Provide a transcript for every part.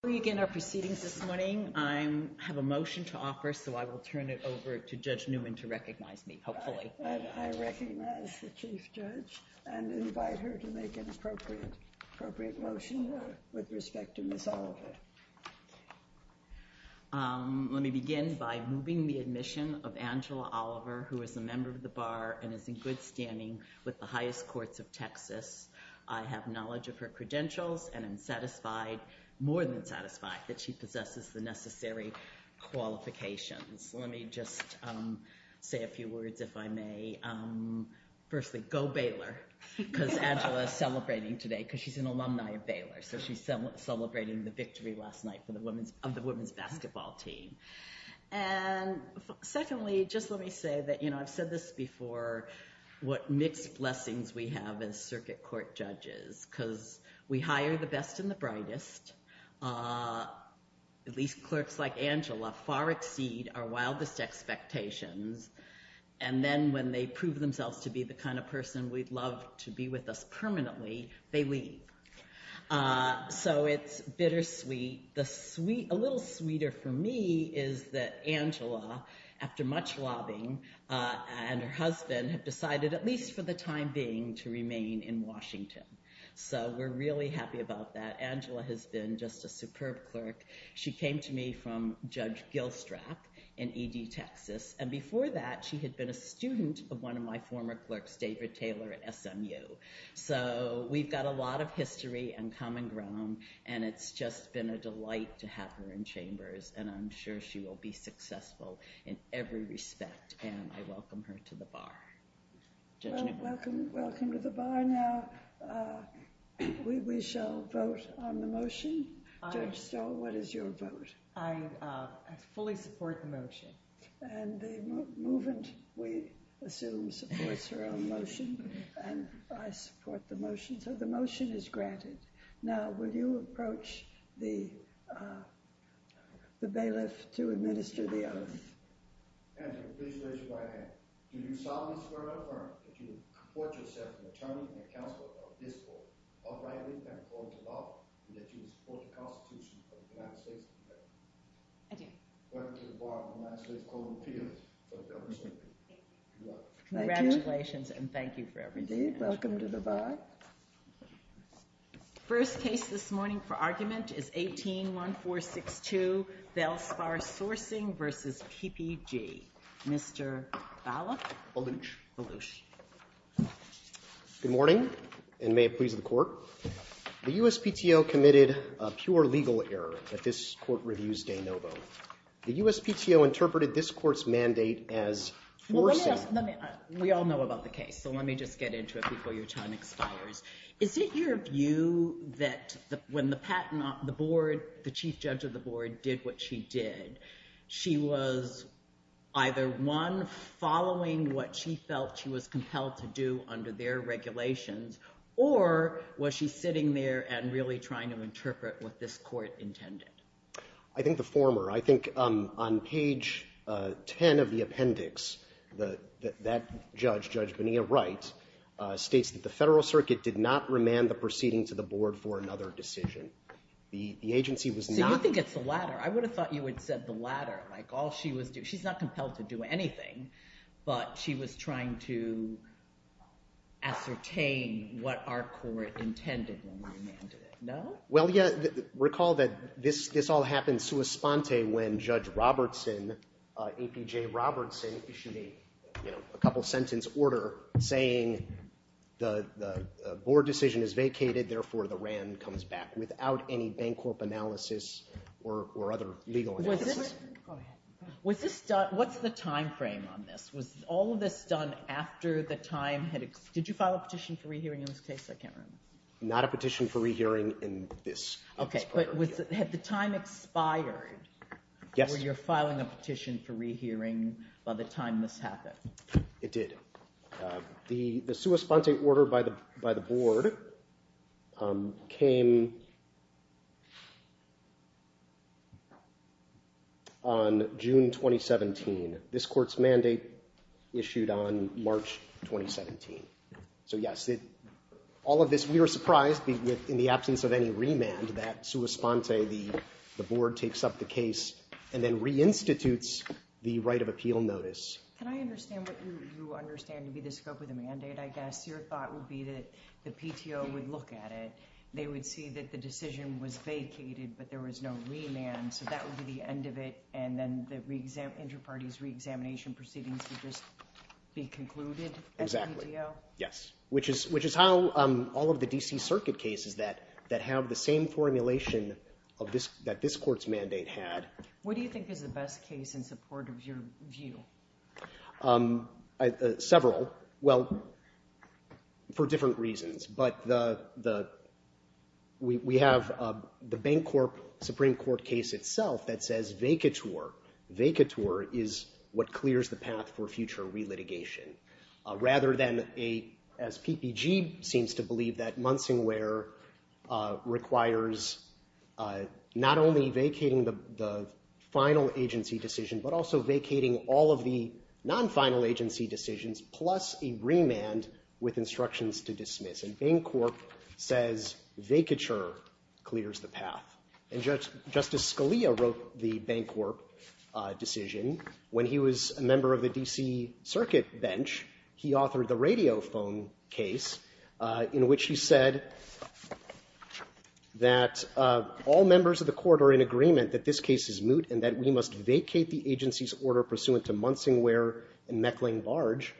Before we begin our proceedings this morning, I have a motion to offer, so I will turn it over to Judge Newman to recognize me, hopefully. I recognize the Chief Judge and invite her to make an appropriate motion with respect to Ms. Oliver. Let me begin by moving the admission of Angela Oliver, who is a member of the Bar and is in good standing with the highest courts of Texas. I have knowledge of her credentials and am satisfied, more than satisfied, that she possesses the necessary qualifications. Let me just say a few words, if I may. Firstly, go Baylor, because Angela is celebrating today, because she's an alumni of Baylor, so she's celebrating the victory last night of the women's basketball team. And secondly, just let me say that, you know, I've said this before, what mixed blessings we have as circuit court judges, because we hire the best and the brightest, at least clerks like Angela, far exceed our wildest expectations, and then when they prove themselves to be the kind of person we'd love to be with us permanently, they leave. So it's bittersweet. A little sweeter for me is that Angela, after much lobbying, and her husband have decided, at least for the time being, to remain in Washington. So we're really happy about that. Angela has been just a superb clerk. She came to me from Judge Gilstrap in E.D. Texas, and before that she had been a student of one of my former clerks, David Taylor at SMU. So we've got a lot of history and common ground, and it's just been a delight to have her in Chambers, and I'm sure she will be successful in every respect, and I welcome her to the bar. Welcome to the bar now. We shall vote on the motion. Judge Stoll, what is your vote? I fully support the motion. And the movement, we assume, supports her own motion, and I support the motion. So the motion is granted. Now, will you approach the bailiff to administer the oath? Angela, please raise your right hand. Do you solemnly swear or affirm that you will comport yourself in the terms and accounts of this court, and that you will support the Constitution of the United States of America? I do. Welcome to the bar of the United States Court of Appeals. Congratulations, and thank you for everything. Welcome to the bar. First case this morning for argument is 18-1462, Belspar Sourcing v. PPG. Mr. Bala? Baluch. Baluch. Good morning, and may it please the court. The USPTO committed a pure legal error at this court review's de novo. The USPTO interpreted this court's mandate as foreseen. We all know about the case, so let me just get into it before your time expires. Is it your view that when the board, the chief judge of the board, did what she did, she was either, one, following what she felt she was compelled to do under their regulations, or was she sitting there and really trying to interpret what this court intended? I think the former. I think on page 10 of the appendix, that judge, Judge Bonilla Wright, states that the federal circuit did not remand the proceeding to the board for another decision. The agency was not— So you think it's the latter. I would have thought you had said the latter, like all she was—she's not compelled to do anything, but she was trying to ascertain what our court intended when we remanded it, no? Well, yes. Recall that this all happened sua sponte when Judge Robertson, APJ Robertson, issued a couple-sentence order saying the board decision is vacated, therefore the rand comes back without any Bancorp analysis or other legal analysis. Was this—go ahead. Was this done—what's the timeframe on this? Was all of this done after the time had—did you file a petition for rehearing in this case? I can't remember. Not a petition for rehearing in this order. Okay, but had the time expired when you're filing a petition for rehearing by the time this happened? It did. The sua sponte order by the board came on June 2017. This court's mandate issued on March 2017. So, yes, all of this—we were surprised in the absence of any remand that sua sponte, the board takes up the case and then reinstitutes the right of appeal notice. Can I understand what you understand to be the scope of the mandate, I guess? Your thought would be that the PTO would look at it. They would see that the decision was vacated, but there was no remand, so that would be the end of it, and then the inter-parties reexamination proceedings would just be concluded? Exactly. As the PTO? Yes, which is how all of the D.C. Circuit cases that have the same formulation that this court's mandate had. What do you think is the best case in support of your view? Several. Well, for different reasons, but we have the Bancorp Supreme Court case itself that says vacatur. Vacatur is what clears the path for future relitigation, rather than, as PPG seems to believe, that Munsing Ware requires not only vacating the final agency decision, but also vacating all of the non-final agency decisions plus a remand with instructions to dismiss. And Bancorp says vacatur clears the path. And Justice Scalia wrote the Bancorp decision when he was a member of the D.C. Circuit bench. He authored the Radiophone case, in which he said that all members of the court are in agreement that this case is moot and that we must vacate the agency's order pursuant to Munsing Ware and Meckling Barge.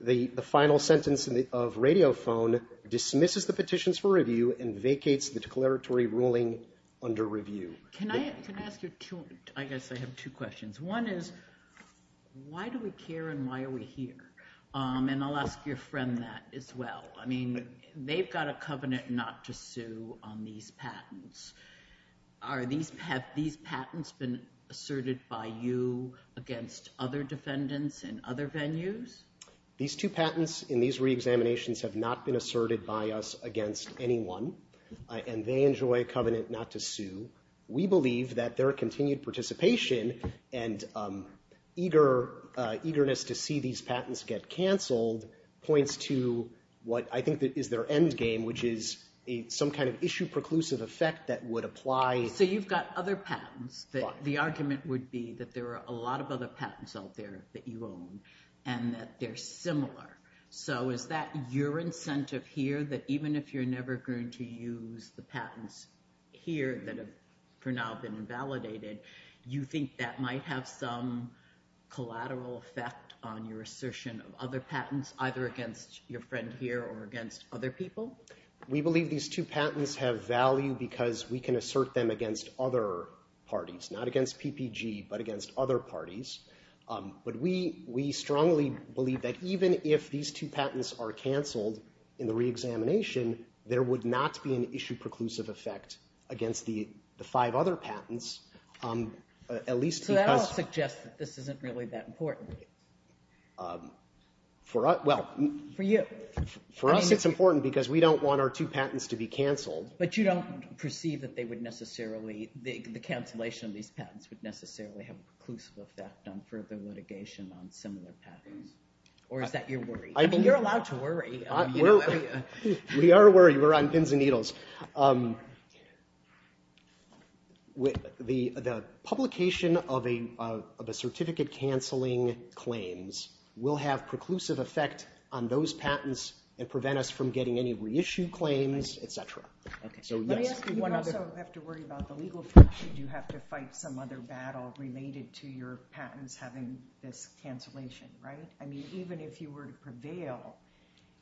The final sentence of Radiophone dismisses the petitions for review and vacates the declaratory ruling under review. Can I ask you two? I guess I have two questions. One is, why do we care and why are we here? And I'll ask your friend that as well. I mean, they've got a covenant not to sue on these patents. Have these patents been asserted by you against other defendants in other venues? These two patents in these reexaminations have not been asserted by us against anyone, and they enjoy a covenant not to sue. We believe that their continued participation and eagerness to see these patents get canceled points to what I think is their endgame, which is some kind of issue-preclusive effect that would apply. So you've got other patents. The argument would be that there are a lot of other patents out there that you own and that they're similar. So is that your incentive here, that even if you're never going to use the patents here that have for now been invalidated, you think that might have some collateral effect on your assertion of other patents, either against your friend here or against other people? We believe these two patents have value because we can assert them against other parties, not against PPG, but against other parties. But we strongly believe that even if these two patents are canceled in the reexamination, there would not be an issue-preclusive effect against the five other patents, at least because... So that all suggests that this isn't really that important. For us, well... For you. For us, it's important because we don't want our two patents to be canceled. But you don't perceive that they would necessarily, the cancellation of these patents would necessarily have a preclusive effect on further litigation on similar patents? Or is that your worry? I mean, you're allowed to worry. We are worried. We're on pins and needles. The publication of a certificate-canceling claims will have preclusive effect on those patents and prevent us from getting any reissued claims, et cetera. Okay. Let me ask you one other... You also have to worry about the legal issue. You have to fight some other battle related to your patents having this cancellation, right? I mean, even if you were to prevail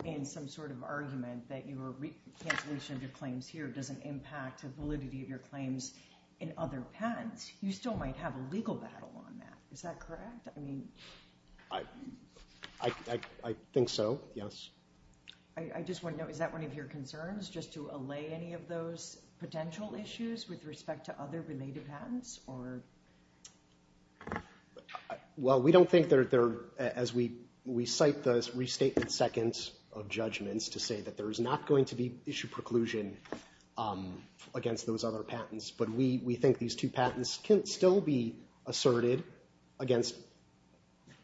in some sort of argument that your cancellation of your claims here doesn't impact the validity of your claims in other patents, you still might have a legal battle on that. Is that correct? I think so, yes. I just want to know, is that one of your concerns, just to allay any of those potential issues with respect to other related patents? Well, we don't think they're... As we cite the restatement seconds of judgments to say that there is not going to be issue preclusion against those other patents, but we think these two patents can still be asserted against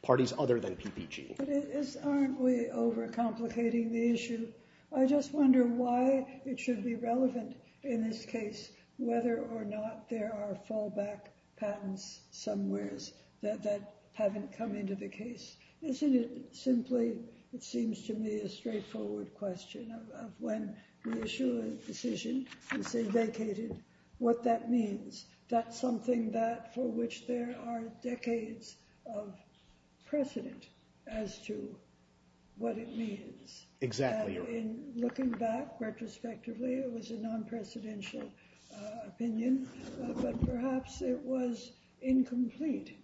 parties other than PPG. But aren't we overcomplicating the issue? I just wonder why it should be relevant in this case, whether or not there are fallback patents somewheres that haven't come into the case. Isn't it simply, it seems to me, a straightforward question of when we issue a decision and say vacated, what that means? That's something that for which there are decades of precedent as to what it means. Exactly. In looking back, retrospectively, it was a non-presidential opinion, but perhaps it was incomplete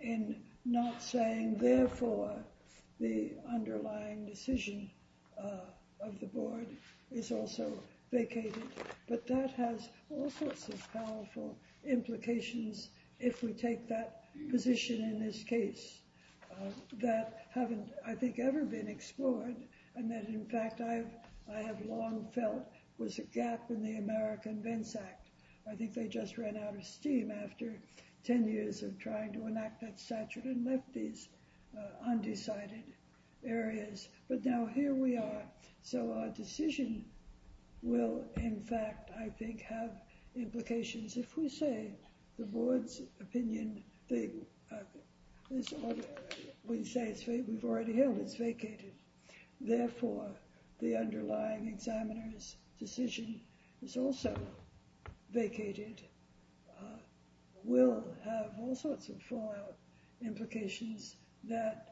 in not saying, therefore, the underlying decision of the board is also vacated. But that has all sorts of powerful implications if we take that position in this case that haven't, I think, ever been explored and that, in fact, I have long felt was a gap in the American Vents Act. I think they just ran out of steam after 10 years of trying to enact that statute and left these undecided areas. But now here we are. So our decision will, in fact, I think, have implications if we say the board's opinion, we say we've already held it's vacated. Therefore, the underlying examiner's decision is also vacated, will have all sorts of fallout implications that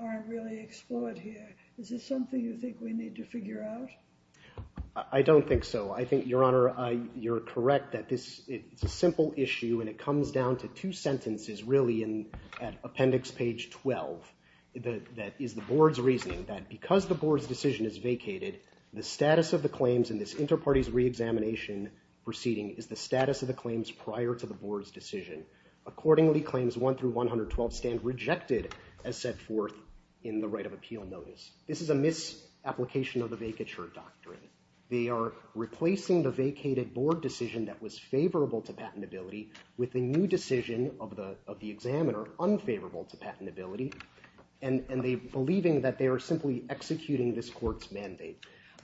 aren't really explored here. Is this something you think we need to figure out? I don't think so. I think, Your Honor, you're correct that this is a simple issue and it comes down to two sentences really at appendix page 12 that is the board's reasoning that because the board's decision is vacated, the status of the claims in this inter-parties re-examination proceeding is the status of the claims prior to the board's decision. Accordingly, claims 1 through 112 stand rejected as set forth in the right of appeal notice. This is a misapplication of the vacature doctrine. They are replacing the vacated board decision that was favorable to patentability with the new decision of the examiner unfavorable to patentability and they're believing that they are simply executing this court's mandate.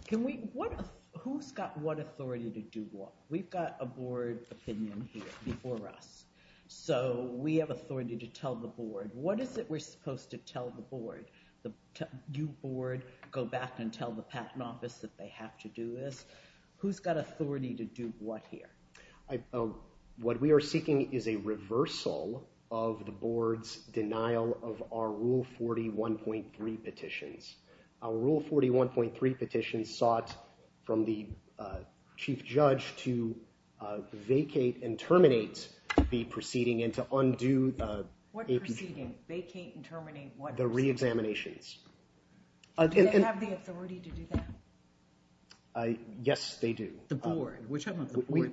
Who's got what authority to do what? We've got a board opinion here before us. So we have authority to tell the board. What is it we're supposed to tell the board? You, board, go back and tell the patent office that they have to do this. Who's got authority to do what here? What we are seeking is a reversal of the board's denial of our Rule 41.3 petitions. Our Rule 41.3 petitions sought from the chief judge to vacate and terminate the proceeding and to undo the re-examinations. Do they have the authority to do that? Yes, they do. The board.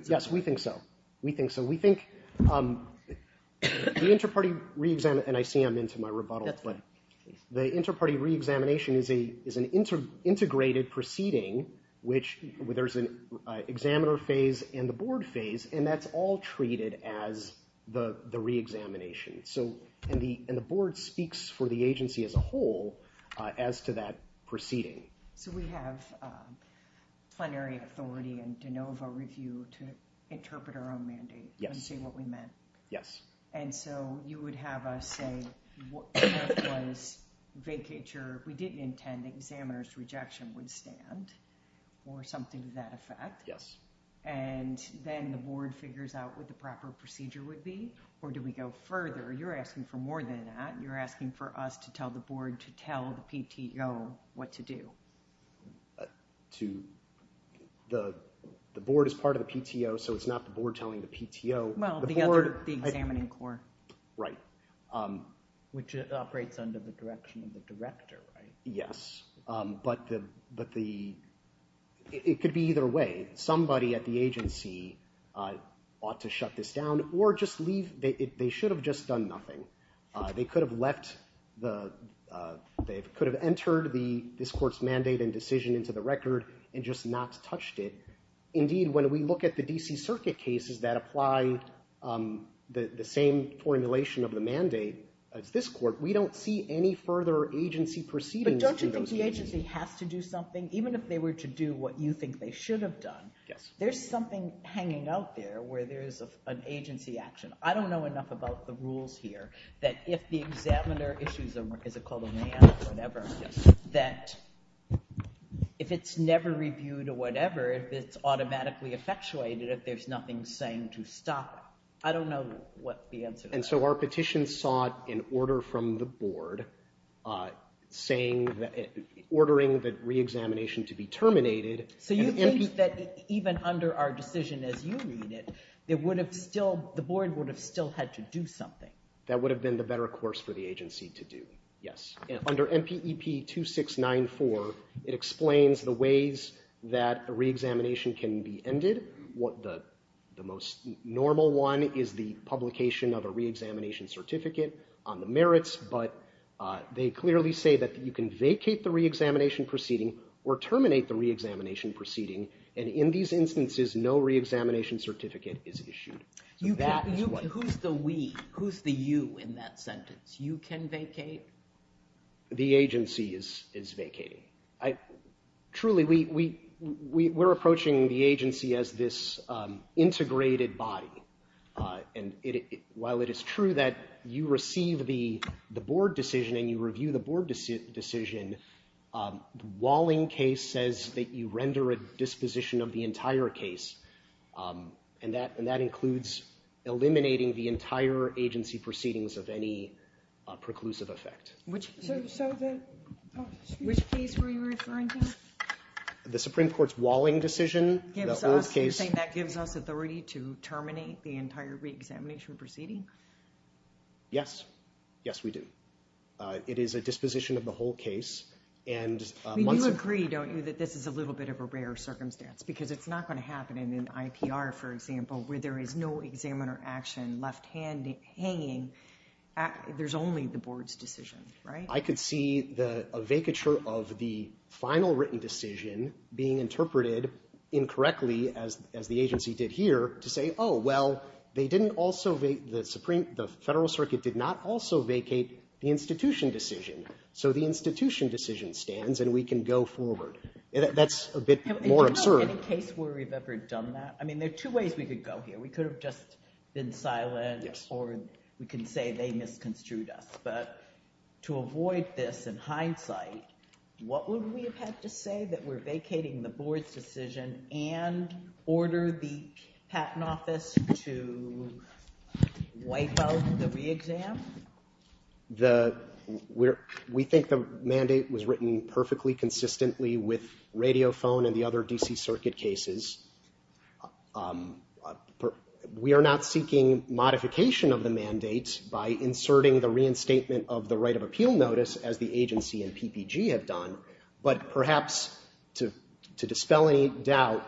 Yes, we think so. We think so. We think the inter-party re-examination, and I see I'm into my rebuttal, but the inter-party re-examination is an integrated proceeding where there's an examiner phase and the board phase and that's all treated as the re-examination. And the board speaks for the agency as a whole as to that proceeding. So we have plenary authority and de novo review to interpret our own mandate and say what we meant. Yes. And so you would have us say what was vacature. We didn't intend the examiner's rejection would stand or something to that effect. Yes. And then the board figures out what the proper procedure would be or do we go further? You're asking for more than that. You're asking for us to tell the board to tell the PTO what to do. The board is part of the PTO, so it's not the board telling the PTO. Well, the other, the examining court. Right. Which operates under the direction of the director, right? Yes, but it could be either way. Somebody at the agency ought to shut this down or just leave. They should have just done nothing. They could have left the, they could have entered this court's mandate and decision into the record and just not touched it. Indeed, when we look at the D.C. Circuit cases that apply the same formulation of the mandate as this court, we don't see any further agency proceeding. But don't you think the agency has to do something, even if they were to do what you think they should have done? Yes. There's something hanging out there where there's an agency action. I don't know enough about the rules here that if the examiner issues a, is it called a man or whatever, that if it's never reviewed or whatever, if it's automatically effectuated, if there's nothing saying to stop it. I don't know what the answer is. And so our petition sought an order from the board saying that, we're ordering the re-examination to be terminated. So you think that even under our decision as you read it, it would have still, the board would have still had to do something? That would have been the better course for the agency to do. Yes. Under MPEP 2694, it explains the ways that a re-examination can be ended. The most normal one is the publication of a re-examination certificate on the merits, but they clearly say that you can vacate the re-examination proceeding or terminate the re-examination proceeding. And in these instances, no re-examination certificate is issued. Who's the we? Who's the you in that sentence? You can vacate? The agency is vacating. Truly, we're approaching the agency as this integrated body. And while it is true that you receive the board decision and you review the board decision, the Walling case says that you render a disposition of the entire case. And that includes eliminating the entire agency proceedings of any preclusive effect. Which case were you referring to? The Supreme Court's Walling decision. You're saying that gives us authority to terminate the entire re-examination proceeding? Yes. Yes, we do. It is a disposition of the whole case. You agree, don't you, that this is a little bit of a rare circumstance because it's not going to happen in an IPR, for example, where there is no examiner action left hanging. There's only the board's decision, right? I could see a vacature of the final written decision being interpreted incorrectly, as the agency did here, to say, oh, well, the Federal Circuit did not also vacate the institution decision. So the institution decision stands and we can go forward. That's a bit more absurd. Do you know of any case where we've ever done that? I mean, there are two ways we could go here. We could have just been silent or we could say they misconstrued us. But to avoid this in hindsight, what would we have had to say that we're vacating the board's decision and order the Patent Office to wipe out the re-exam? We think the mandate was written perfectly consistently with Radiophone and the other D.C. Circuit cases. We are not seeking modification of the mandate by inserting the reinstatement of the right of appeal notice, as the agency and PPG have done. But perhaps to dispel any doubt,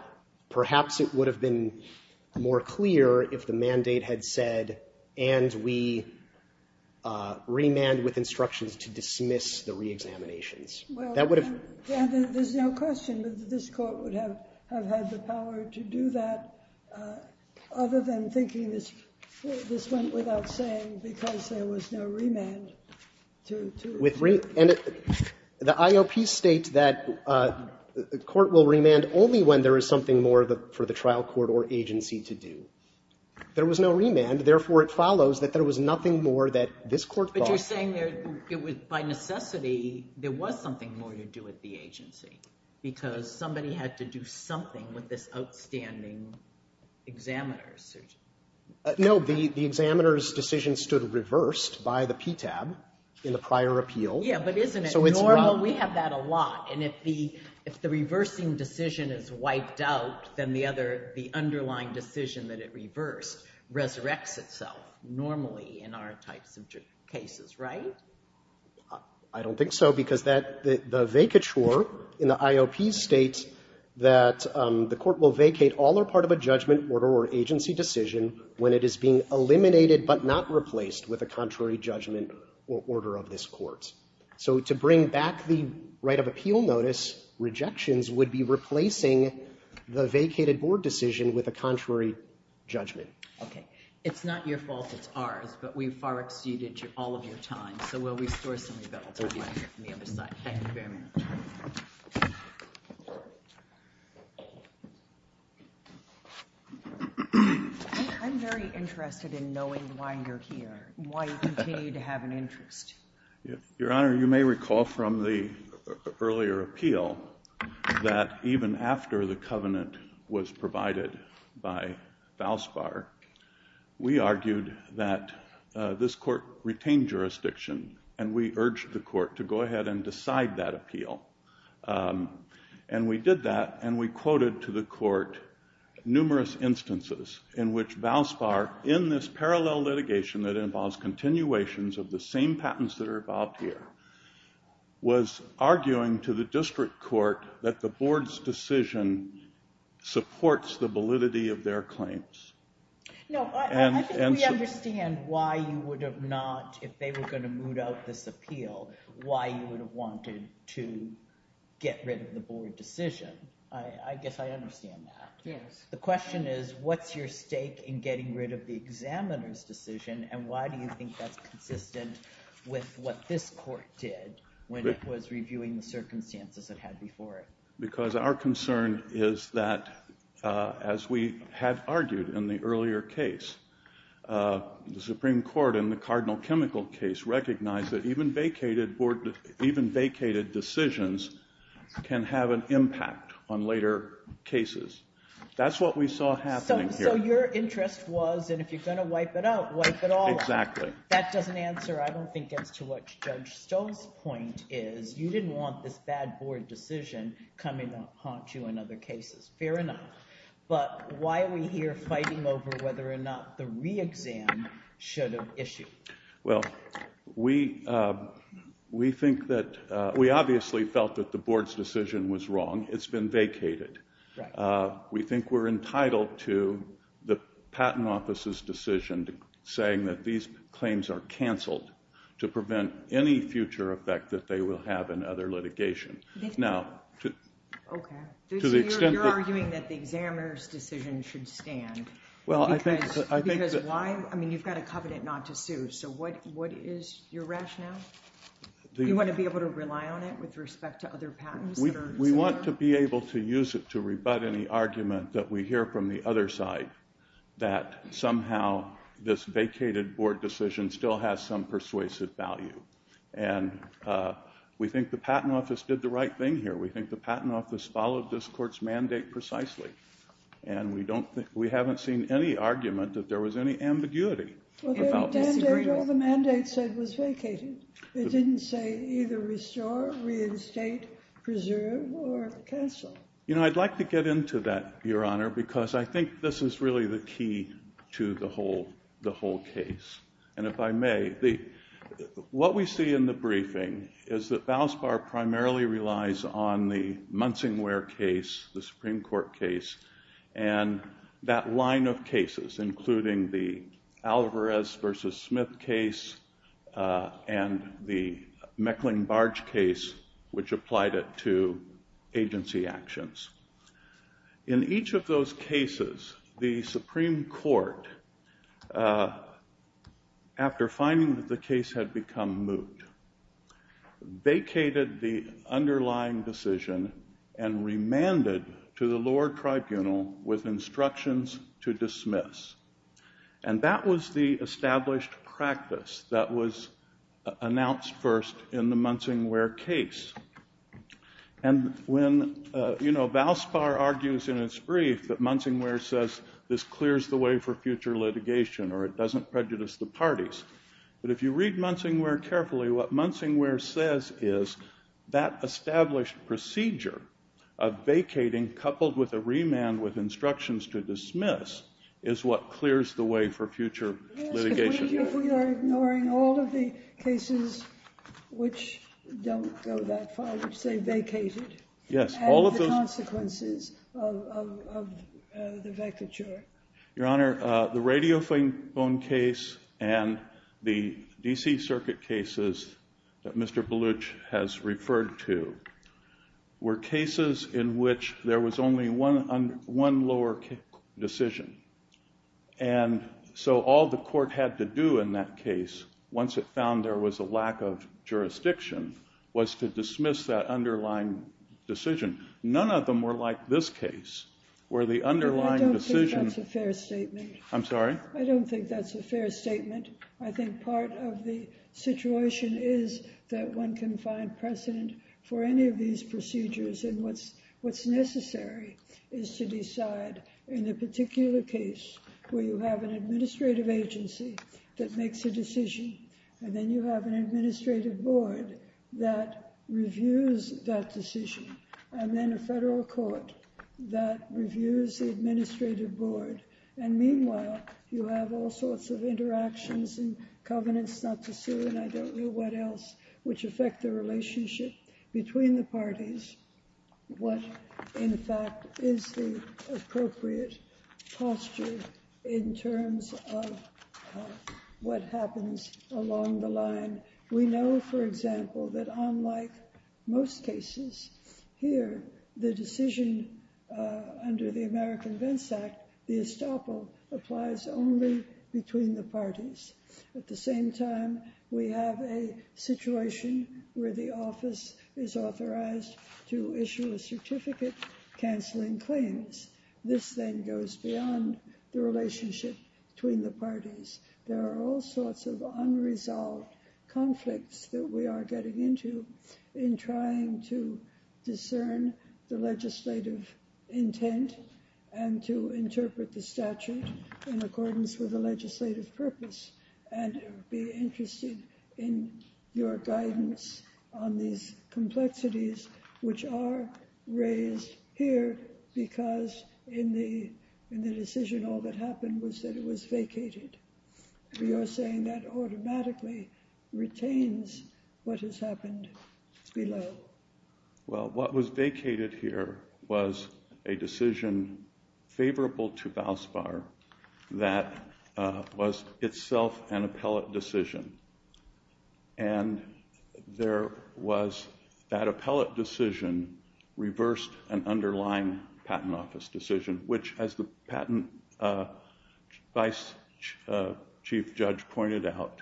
perhaps it would have been more clear if the mandate had said, and we remand with instructions to dismiss the re-examinations. Well, there's no question that this Court would have had the power to do that, other than thinking this went without saying because there was no remand. And the IOP states that the Court will remand only when there is something more for the trial court or agency to do. There was no remand. Therefore, it follows that there was nothing more that this Court thought. But you're saying by necessity there was something more to do at the agency because somebody had to do something with this outstanding examiner? No. The examiner's decision stood reversed by the PTAB in the prior appeal. Yeah, but isn't it normal? We have that a lot. And if the reversing decision is wiped out, then the underlying decision that it reversed resurrects itself normally in our types of cases, right? I don't think so because the vacature in the IOP states that the Court will vacate all or part of a judgment, order, or agency decision when it is being eliminated but not replaced with a contrary judgment or order of this Court. So to bring back the right of appeal notice, rejections would be replacing the vacated board decision with a contrary judgment. Okay. It's not your fault. It's ours. But we've far exceeded all of your time. So we'll restore some rebellion on the other side. Thank you very much. I'm very interested in knowing why you're here, why you continue to have an interest. Your Honor, you may recall from the earlier appeal that even after the covenant was provided by Falspar, we argued that this Court retained jurisdiction and we urged the Court to go ahead and decide that appeal. And we did that and we quoted to the Court numerous instances in which Falspar, in this parallel litigation that involves continuations of the same patents that are involved here, was arguing to the District Court that the Board's decision supports the validity of their claims. No, I think we understand why you would have not, if they were going to moot out this appeal, why you would have wanted to get rid of the Board decision. I guess I understand that. Yes. The question is what's your stake in getting rid of the examiner's decision and why do you think that's consistent with what this Court did when it was reviewing the circumstances it had before it? Because our concern is that, as we have argued in the earlier case, the Supreme Court in the Cardinal Chemical case recognized that even vacated decisions can have an impact on later cases. That's what we saw happening here. So your interest was, and if you're going to wipe it out, wipe it all out. Exactly. That doesn't answer, I don't think, I think it gets to what Judge Stoll's point is. You didn't want this bad Board decision coming to haunt you in other cases. Fair enough. But why are we here fighting over whether or not the re-exam should have issued? Well, we think that, we obviously felt that the Board's decision was wrong. It's been vacated. We think we're entitled to the Patent Office's decision saying that these should prevent any future effect that they will have in other litigation. Okay. So you're arguing that the examiner's decision should stand. Well, I think that... Because why? I mean, you've got a covenant not to sue, so what is your rationale? Do you want to be able to rely on it with respect to other patents? We want to be able to use it to rebut any argument that we hear from the other side that somehow this vacated Board decision still has some persuasive value. And we think the Patent Office did the right thing here. We think the Patent Office followed this Court's mandate precisely. And we haven't seen any argument that there was any ambiguity about this. Well, the mandate said it was vacated. It didn't say either restore, reinstate, preserve, or cancel. You know, I'd like to get into that, Your Honor, because I think this is really the key to the whole case. And if I may, what we see in the briefing is that Balanced Bar primarily relies on the Munsingware case, the Supreme Court case, and that line of cases, including the Alvarez v. Smith case and the Meckling-Barge case, which applied it to agency actions. In each of those cases, the Supreme Court, after finding that the case had become moot, vacated the underlying decision and remanded to the lower tribunal with instructions to dismiss. And that was the established practice that was announced first in the Munsingware case. And when, you know, Balanced Bar argues in its brief that Munsingware says this clears the way for future litigation or it doesn't prejudice the parties. But if you read Munsingware carefully, what Munsingware says is that established procedure of vacating coupled with a remand with instructions to dismiss is what clears the way for future litigation. But if we are ignoring all of the cases which don't go that far, which say vacated, and the consequences of the vacature? Your Honor, the Radiophone case and the D.C. Circuit cases that Mr. Baluch has referred to were cases in which there was only one lower decision. And so all the court had to do in that case, once it found there was a lack of jurisdiction, was to dismiss that underlying decision. None of them were like this case, where the underlying decision... I don't think that's a fair statement. I'm sorry? I don't think that's a fair statement. I think part of the situation is that one can find precedent for any of these procedures. And what's necessary is to decide in a particular case where you have an administrative agency that makes a decision, and then you have an administrative board that reviews that decision, and then a federal court that reviews the administrative board. And meanwhile, you have all sorts of interactions and covenants not to sue and I don't know what else, which affect the relationship between the parties, what, in fact, is the appropriate posture in terms of what happens along the line. We know, for example, that unlike most cases here, the decision under the American Vents Act, the estoppel, applies only between the parties. At the same time, we have a situation where the office is authorized to issue a certificate canceling claims. This then goes beyond the relationship between the parties. There are all sorts of unresolved conflicts that we are getting into in trying to discern the legislative intent and to interpret the statute in accordance with the legislative purpose and be interested in your guidance on these complexities which are raised here because in the decision, all that happened was that it was vacated. You're saying that automatically retains what has happened below. Well, what was vacated here was a decision favorable to Valspar that was itself an appellate decision. And there was that appellate decision reversed an underlying patent office decision which, as the patent vice chief judge pointed out,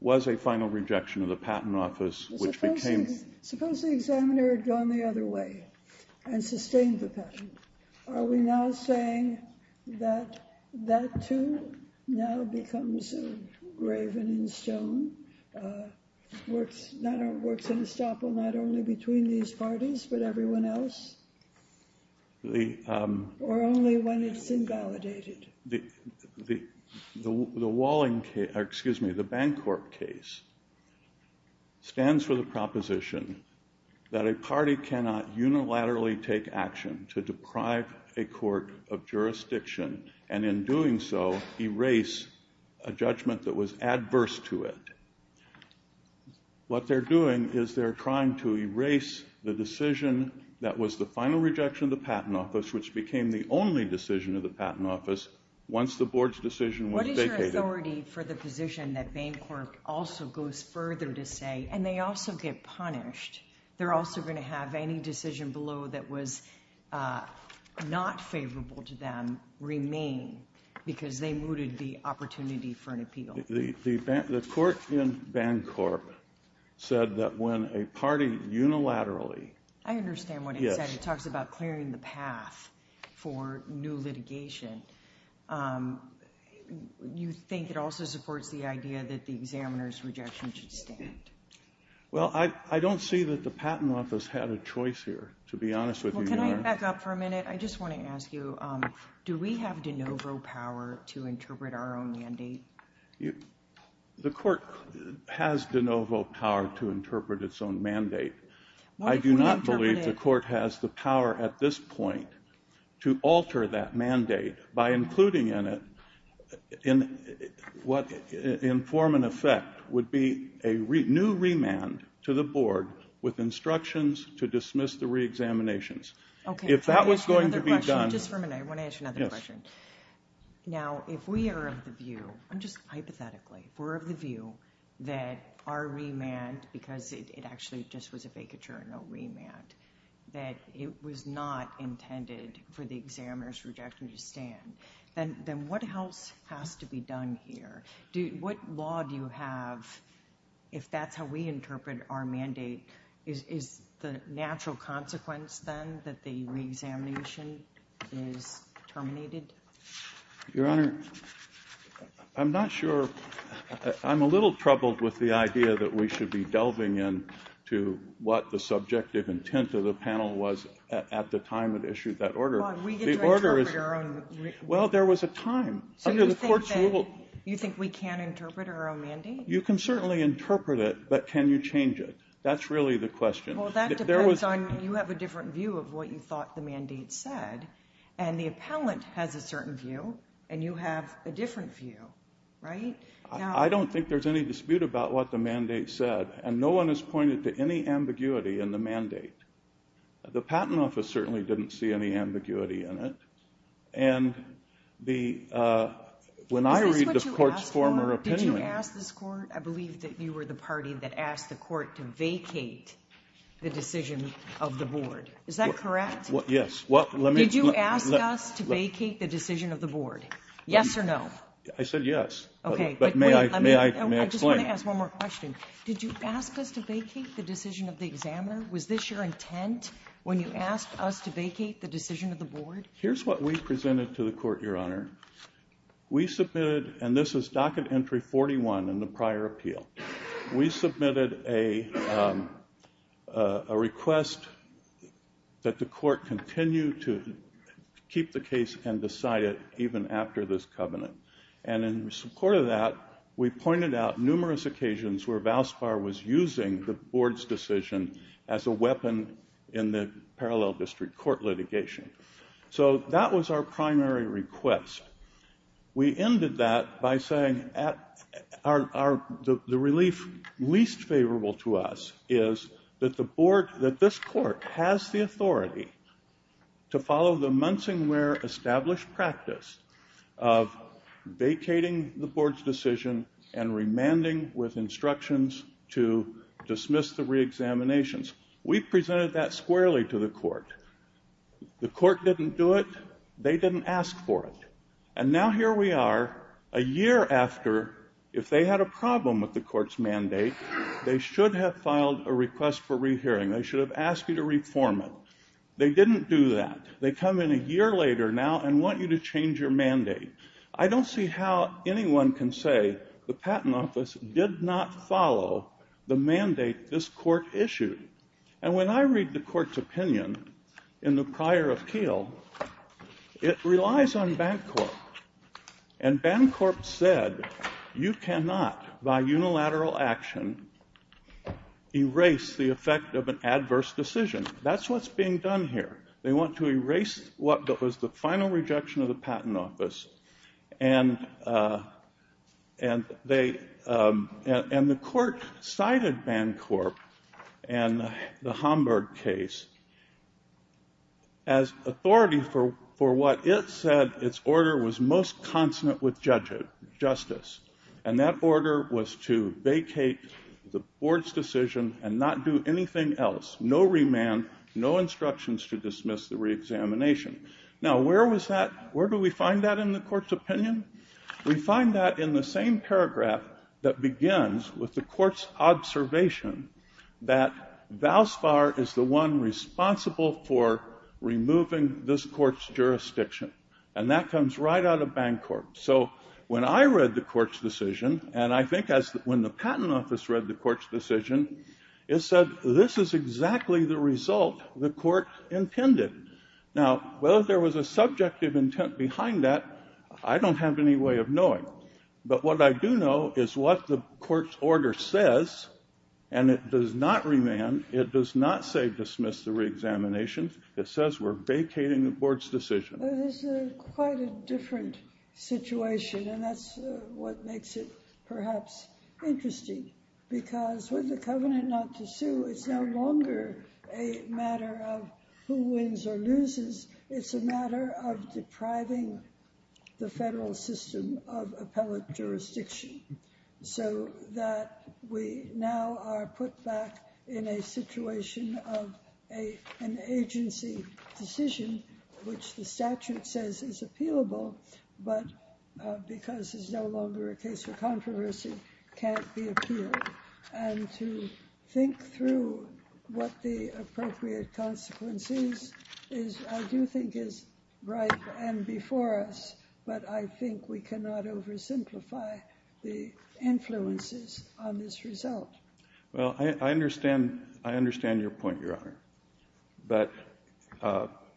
was a final rejection of the patent office which became... Suppose the examiner had gone the other way and sustained the patent. Are we now saying that that, too, now becomes a raven in stone? Works in estoppel not only between these parties but everyone else? Or only when it's invalidated? The Bancorp case stands for the proposition that a party cannot unilaterally take action to deprive a court of jurisdiction and in doing so erase a judgment that was adverse to it. What they're doing is they're trying to erase the decision that was the final rejection of the patent office which became the only decision of the patent office once the board's decision was vacated. What is your authority for the position that Bancorp also goes further to say, and they also get punished. They're also going to have any decision below that was not favorable to them remain because they mooted the opportunity for an appeal. The court in Bancorp said that when a party unilaterally... clearing the path for new litigation, you think it also supports the idea that the examiner's rejection should stand? Well, I don't see that the patent office had a choice here, to be honest with you. Can I back up for a minute? I just want to ask you, do we have de novo power to interpret our own mandate? The court has de novo power to interpret its own mandate. I do not believe the court has the power at this point to alter that mandate by including in it what in form and effect would be a new remand to the board with instructions to dismiss the reexaminations. If that was going to be done... Just for a minute, I want to ask you another question. Now, if we are of the view, just hypothetically, if we're of the view that our remand, because it actually just was a vacature and no remand, that it was not intended for the examiner's rejection to stand, then what else has to be done here? What law do you have, if that's how we interpret our mandate, is the natural consequence then that the reexamination is terminated? Your Honor, I'm not sure. I'm a little troubled with the idea that we should be delving into what the subjective intent of the panel was at the time it issued that order. Well, we get to interpret our own... Well, there was a time. So you think we can interpret our own mandate? You can certainly interpret it, but can you change it? That's really the question. Well, that depends on, you have a different view of what you thought the mandate said, and the appellant has a certain view, and you have a different view, right? I don't think there's any dispute about what the mandate said, and no one has pointed to any ambiguity in the mandate. The Patent Office certainly didn't see any ambiguity in it, and when I read the Court's former opinion... Is this what you asked for? Did you ask this Court? I believe that you were the party that asked the Court to vacate the decision of the Board. Is that correct? Yes. Did you ask us to vacate the decision of the Board? Yes or no? I said yes. Okay. But may I explain? I just want to ask one more question. Did you ask us to vacate the decision of the Examiner? Was this your intent when you asked us to vacate the decision of the Board? Here's what we presented to the Court, Your Honor. We submitted, and this is docket entry 41 in the prior appeal. We submitted a request that the Court continue to keep the case and decide it even after this covenant. And in support of that, we pointed out numerous occasions where Valspar was using the Board's decision as a weapon in the parallel district court litigation. So that was our primary request. We ended that by saying the relief least favorable to us is that this Court has the authority to follow the Munsingware established practice of vacating the Board's decision and remanding with instructions to dismiss the reexaminations. We presented that squarely to the Court. The Court didn't do it. They didn't ask for it. And now here we are, a year after, if they had a problem with the Court's mandate, they should have filed a request for rehearing. They should have asked you to reform it. They didn't do that. They come in a year later now and want you to change your mandate. I don't see how anyone can say the Patent Office did not follow the mandate this Court issued. And when I read the Court's opinion in the prior appeal, it relies on Bancorp. And Bancorp said you cannot, by unilateral action, erase the effect of an adverse decision. That's what's being done here. They want to erase what was the final rejection of the Patent Office. And the Court cited Bancorp and the Homburg case as authority for what it said its order was most consonant with justice. And that order was to vacate the Board's decision and not do anything else, no remand, no instructions to dismiss the reexamination. Now, where do we find that in the Court's opinion? We find that in the same paragraph that begins with the Court's observation that Valspar is the one responsible for removing this Court's jurisdiction. And that comes right out of Bancorp. So when I read the Court's decision, and I think when the Patent Office read the Court's decision, it said this is exactly the result the Court intended. Now, whether there was a subjective intent behind that, I don't have any way of knowing. But what I do know is what the Court's order says, and it does not remand, it does not say dismiss the reexamination. It says we're vacating the Board's decision. Well, this is quite a different situation, and that's what makes it perhaps interesting. Because with the covenant not to sue, it's no longer a matter of who wins or loses. It's a matter of depriving the federal system of appellate jurisdiction, so that we now are put back in a situation of an agency decision, which the statute says is appealable, but because it's no longer a case for controversy, can't be appealed. And to think through what the appropriate consequence is, I do think is right and before us, but I think we cannot oversimplify the influences on this result. Well, I understand your point, Your Honor. But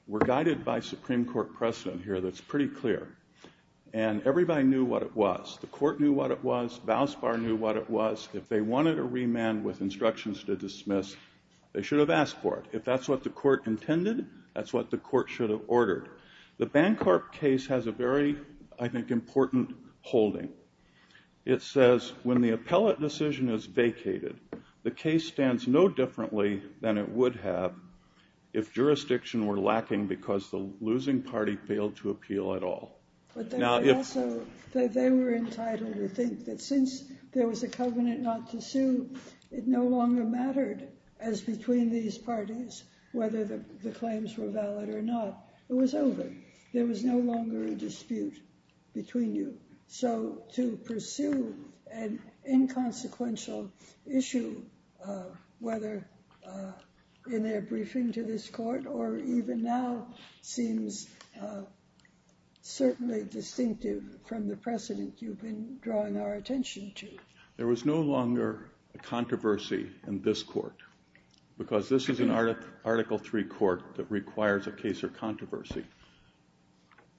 we're guided by Supreme Court precedent here that's pretty clear, and everybody knew what it was. The Court knew what it was. Vosbar knew what it was. If they wanted a remand with instructions to dismiss, they should have asked for it. If that's what the Court intended, that's what the Court should have ordered. The Bancorp case has a very, I think, important holding. It says when the appellate decision is vacated, the case stands no differently than it would have if jurisdiction were lacking because the losing party failed to appeal at all. They were entitled to think that since there was a covenant not to sue, it no longer mattered as between these parties whether the claims were valid or not. It was over. There was no longer a dispute between you. So to pursue an inconsequential issue, whether in their briefing to this Court or even now, seems certainly distinctive from the precedent you've been drawing our attention to. There was no longer a controversy in this Court because this is an Article III Court that requires a case or controversy.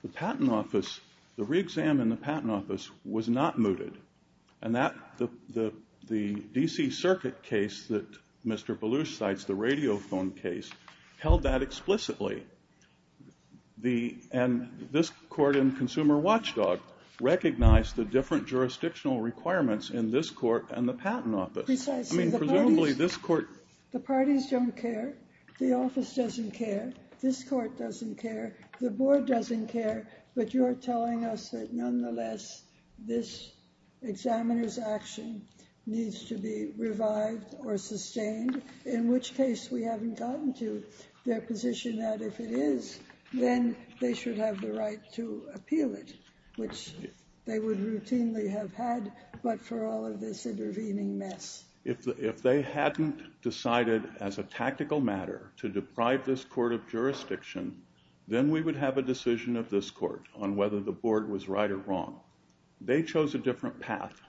The patent office, the re-exam in the patent office was not mooted, and the D.C. Circuit case that Mr. Belush cites, the Radiophone case, held that explicitly. And this Court in Consumer Watchdog recognized the different jurisdictional requirements in this Court and the patent office. I mean, presumably this Court... The parties don't care. The office doesn't care. This Court doesn't care. The Board doesn't care. But you're telling us that nonetheless this examiner's action needs to be revived or sustained in which case we haven't gotten to their position that if it is, then they should have the right to appeal it, which they would routinely have had but for all of this intervening mess. If they hadn't decided as a tactical matter to deprive this Court of jurisdiction, then we would have a decision of this Court on whether the Board was right or wrong. They chose a different path.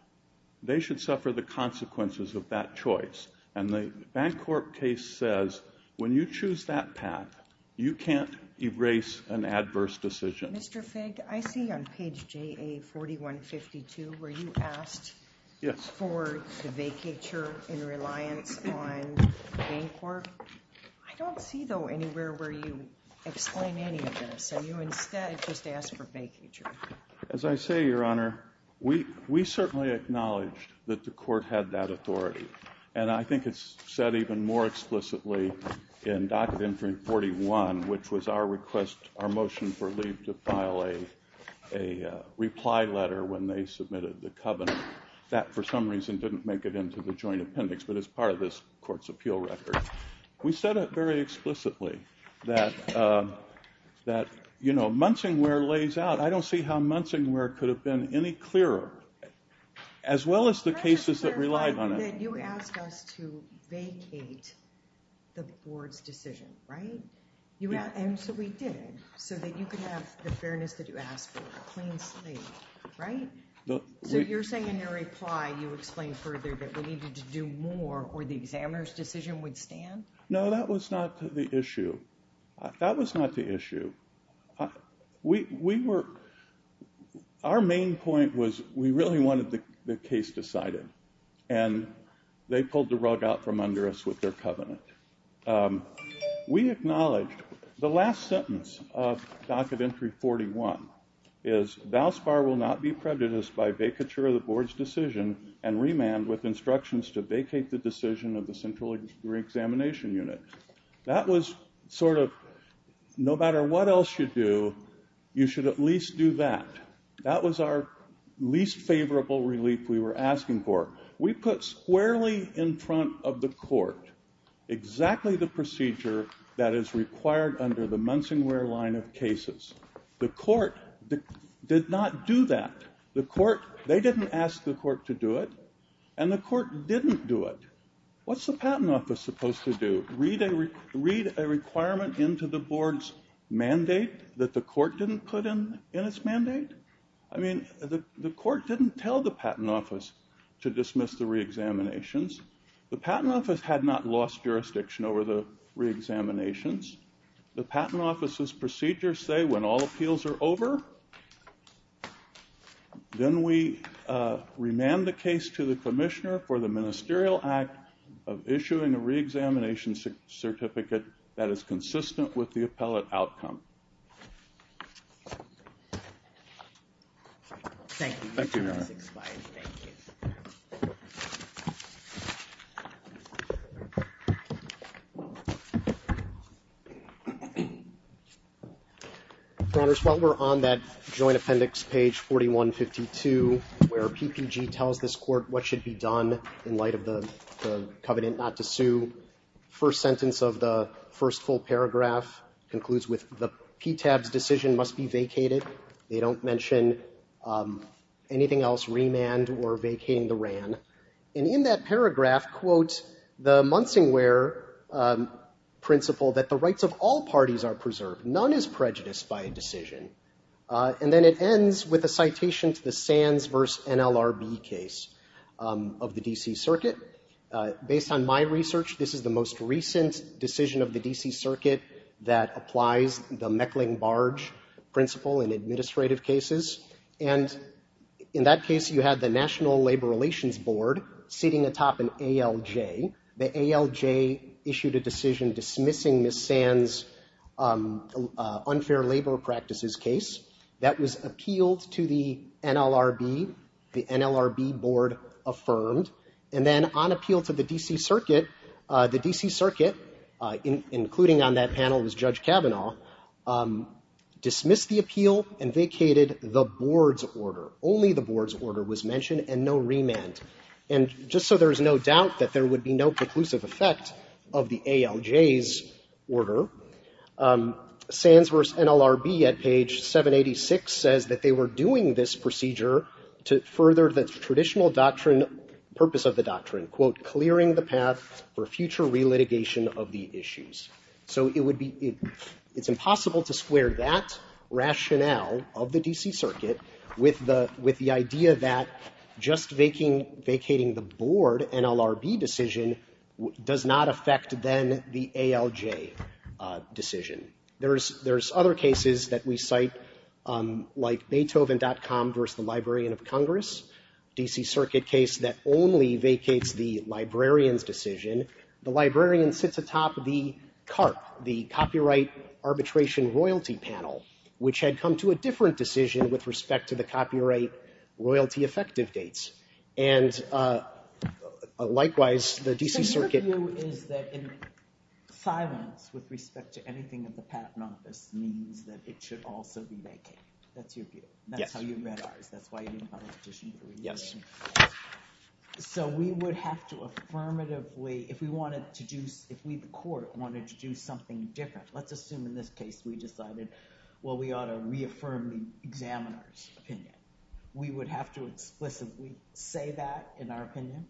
They should suffer the consequences of that choice, and the Bancorp case says when you choose that path, you can't erase an adverse decision. Mr. Figg, I see on page JA4152 where you asked for the vacatur in reliance on Bancorp. I don't see, though, anywhere where you explain any of this. So you instead just asked for vacatur. As I say, Your Honor, we certainly acknowledged that the Court had that authority, and I think it's said even more explicitly in Docket Interim 41, which was our motion for Lee to file a reply letter when they submitted the covenant. That, for some reason, didn't make it into the joint appendix, but it's part of this Court's appeal record. We said it very explicitly that Munsingware lays out. I don't see how Munsingware could have been any clearer, as well as the cases that relied on it. You asked us to vacate the Board's decision, right? And so we did, so that you could have the fairness that you asked for, a clean slate, right? So you're saying in your reply you explained further that we needed to do more or the examiner's decision would stand? No, that was not the issue. That was not the issue. Our main point was we really wanted the case decided, and they pulled the rug out from under us with their covenant. We acknowledged the last sentence of Docket Interim 41 is, Thou spar will not be prejudiced by vacature of the Board's decision and remand with instructions to vacate the decision of the Central Examination Unit. That was sort of, no matter what else you do, you should at least do that. That was our least favorable relief we were asking for. We put squarely in front of the Court exactly the procedure that is required under the Munsingware line of cases. The Court did not do that. They didn't ask the Court to do it, and the Court didn't do it. What's the Patent Office supposed to do? Read a requirement into the Board's mandate that the Court didn't put in its mandate? I mean, the Court didn't tell the Patent Office to dismiss the reexaminations. The Patent Office had not lost jurisdiction over the reexaminations. The Patent Office's procedures say when all appeals are over, then we remand the case to the Commissioner for the Ministerial Act of issuing a reexamination certificate that is consistent with the appellate outcome. Thank you. Your Honors, while we're on that joint appendix, page 4152, where PPG tells this Court what should be done in light of the covenant not to sue, the first sentence of the first full paragraph concludes with, the PTAB's decision must be vacated. They don't mention anything else, remand or vacating the RAN. And in that paragraph, quote, the Munsingware principle that the rights of all parties are preserved. None is prejudiced by a decision. And then it ends with a citation to the Sands v. NLRB case of the D.C. Circuit. Based on my research, this is the most recent decision of the D.C. Circuit that applies the Meckling-Barge principle in administrative cases. And in that case, you had the National Labor Relations Board sitting atop an ALJ. The ALJ issued a decision dismissing Ms. Sands' unfair labor practices case. That was appealed to the NLRB. The NLRB Board affirmed. And on appeal to the D.C. Circuit, the D.C. Circuit, including on that panel, was Judge Kavanaugh, dismissed the appeal and vacated the Board's order. Only the Board's order was mentioned and no remand. And just so there's no doubt that there would be no preclusive effect of the ALJ's order, Sands v. NLRB at page 786 says that they were doing this procedure to further the traditional doctrine, purpose of the doctrine, quote, clearing the path for future relitigation of the issues. So it would be, it's impossible to square that rationale of the D.C. Circuit with the idea that just vacating the Board NLRB decision does not affect then the ALJ decision. There's other cases that we cite, like Beethoven.com v. The Librarian of Congress, D.C. Circuit case that only vacates the Librarian's decision. The Librarian sits atop the CARP, the Copyright Arbitration Royalty Panel, which had come to a different decision with respect to the copyright royalty effective dates. And likewise, the D.C. Circuit... The patent office means that it should also be vacated. That's your view. That's how you read ours. That's why you didn't have a petition. So we would have to affirmatively, if we wanted to do, if we, the court, wanted to do something different, let's assume in this case we decided, well, we ought to reaffirm the examiner's opinion. We would have to explicitly say that in our opinion?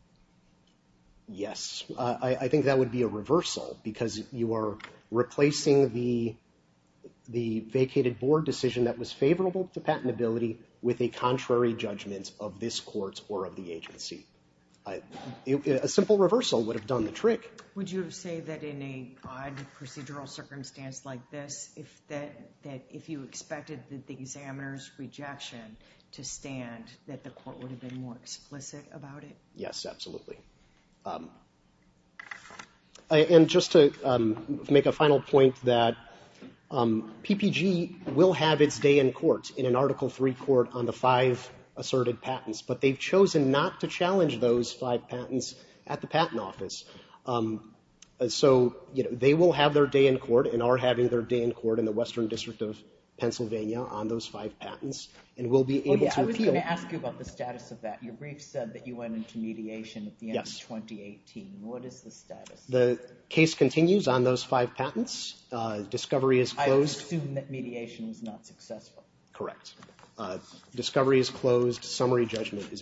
Yes. I think that would be a reversal, because you are replacing the vacated board decision that was favorable to patentability with a contrary judgment of this court or of the agency. A simple reversal would have done the trick. Would you say that in a procedural circumstance like this, if you expected the examiner's rejection to stand, that the court would have been more explicit about it? Yes, absolutely. And just to make a final point, that PPG will have its day in court in an Article III court on the five asserted patents, but they've chosen not to challenge those five patents at the patent office. So they will have their day in court and are having their day in court in the Western District of Pennsylvania on those five patents and will be able to appeal. I was going to ask you about the status of that. Your brief said that you went into mediation at the end of 2018. What is the status? The case continues on those five patents. Discovery is closed. I assume that mediation was not successful. Correct. Discovery is closed. Summary judgment is being briefed.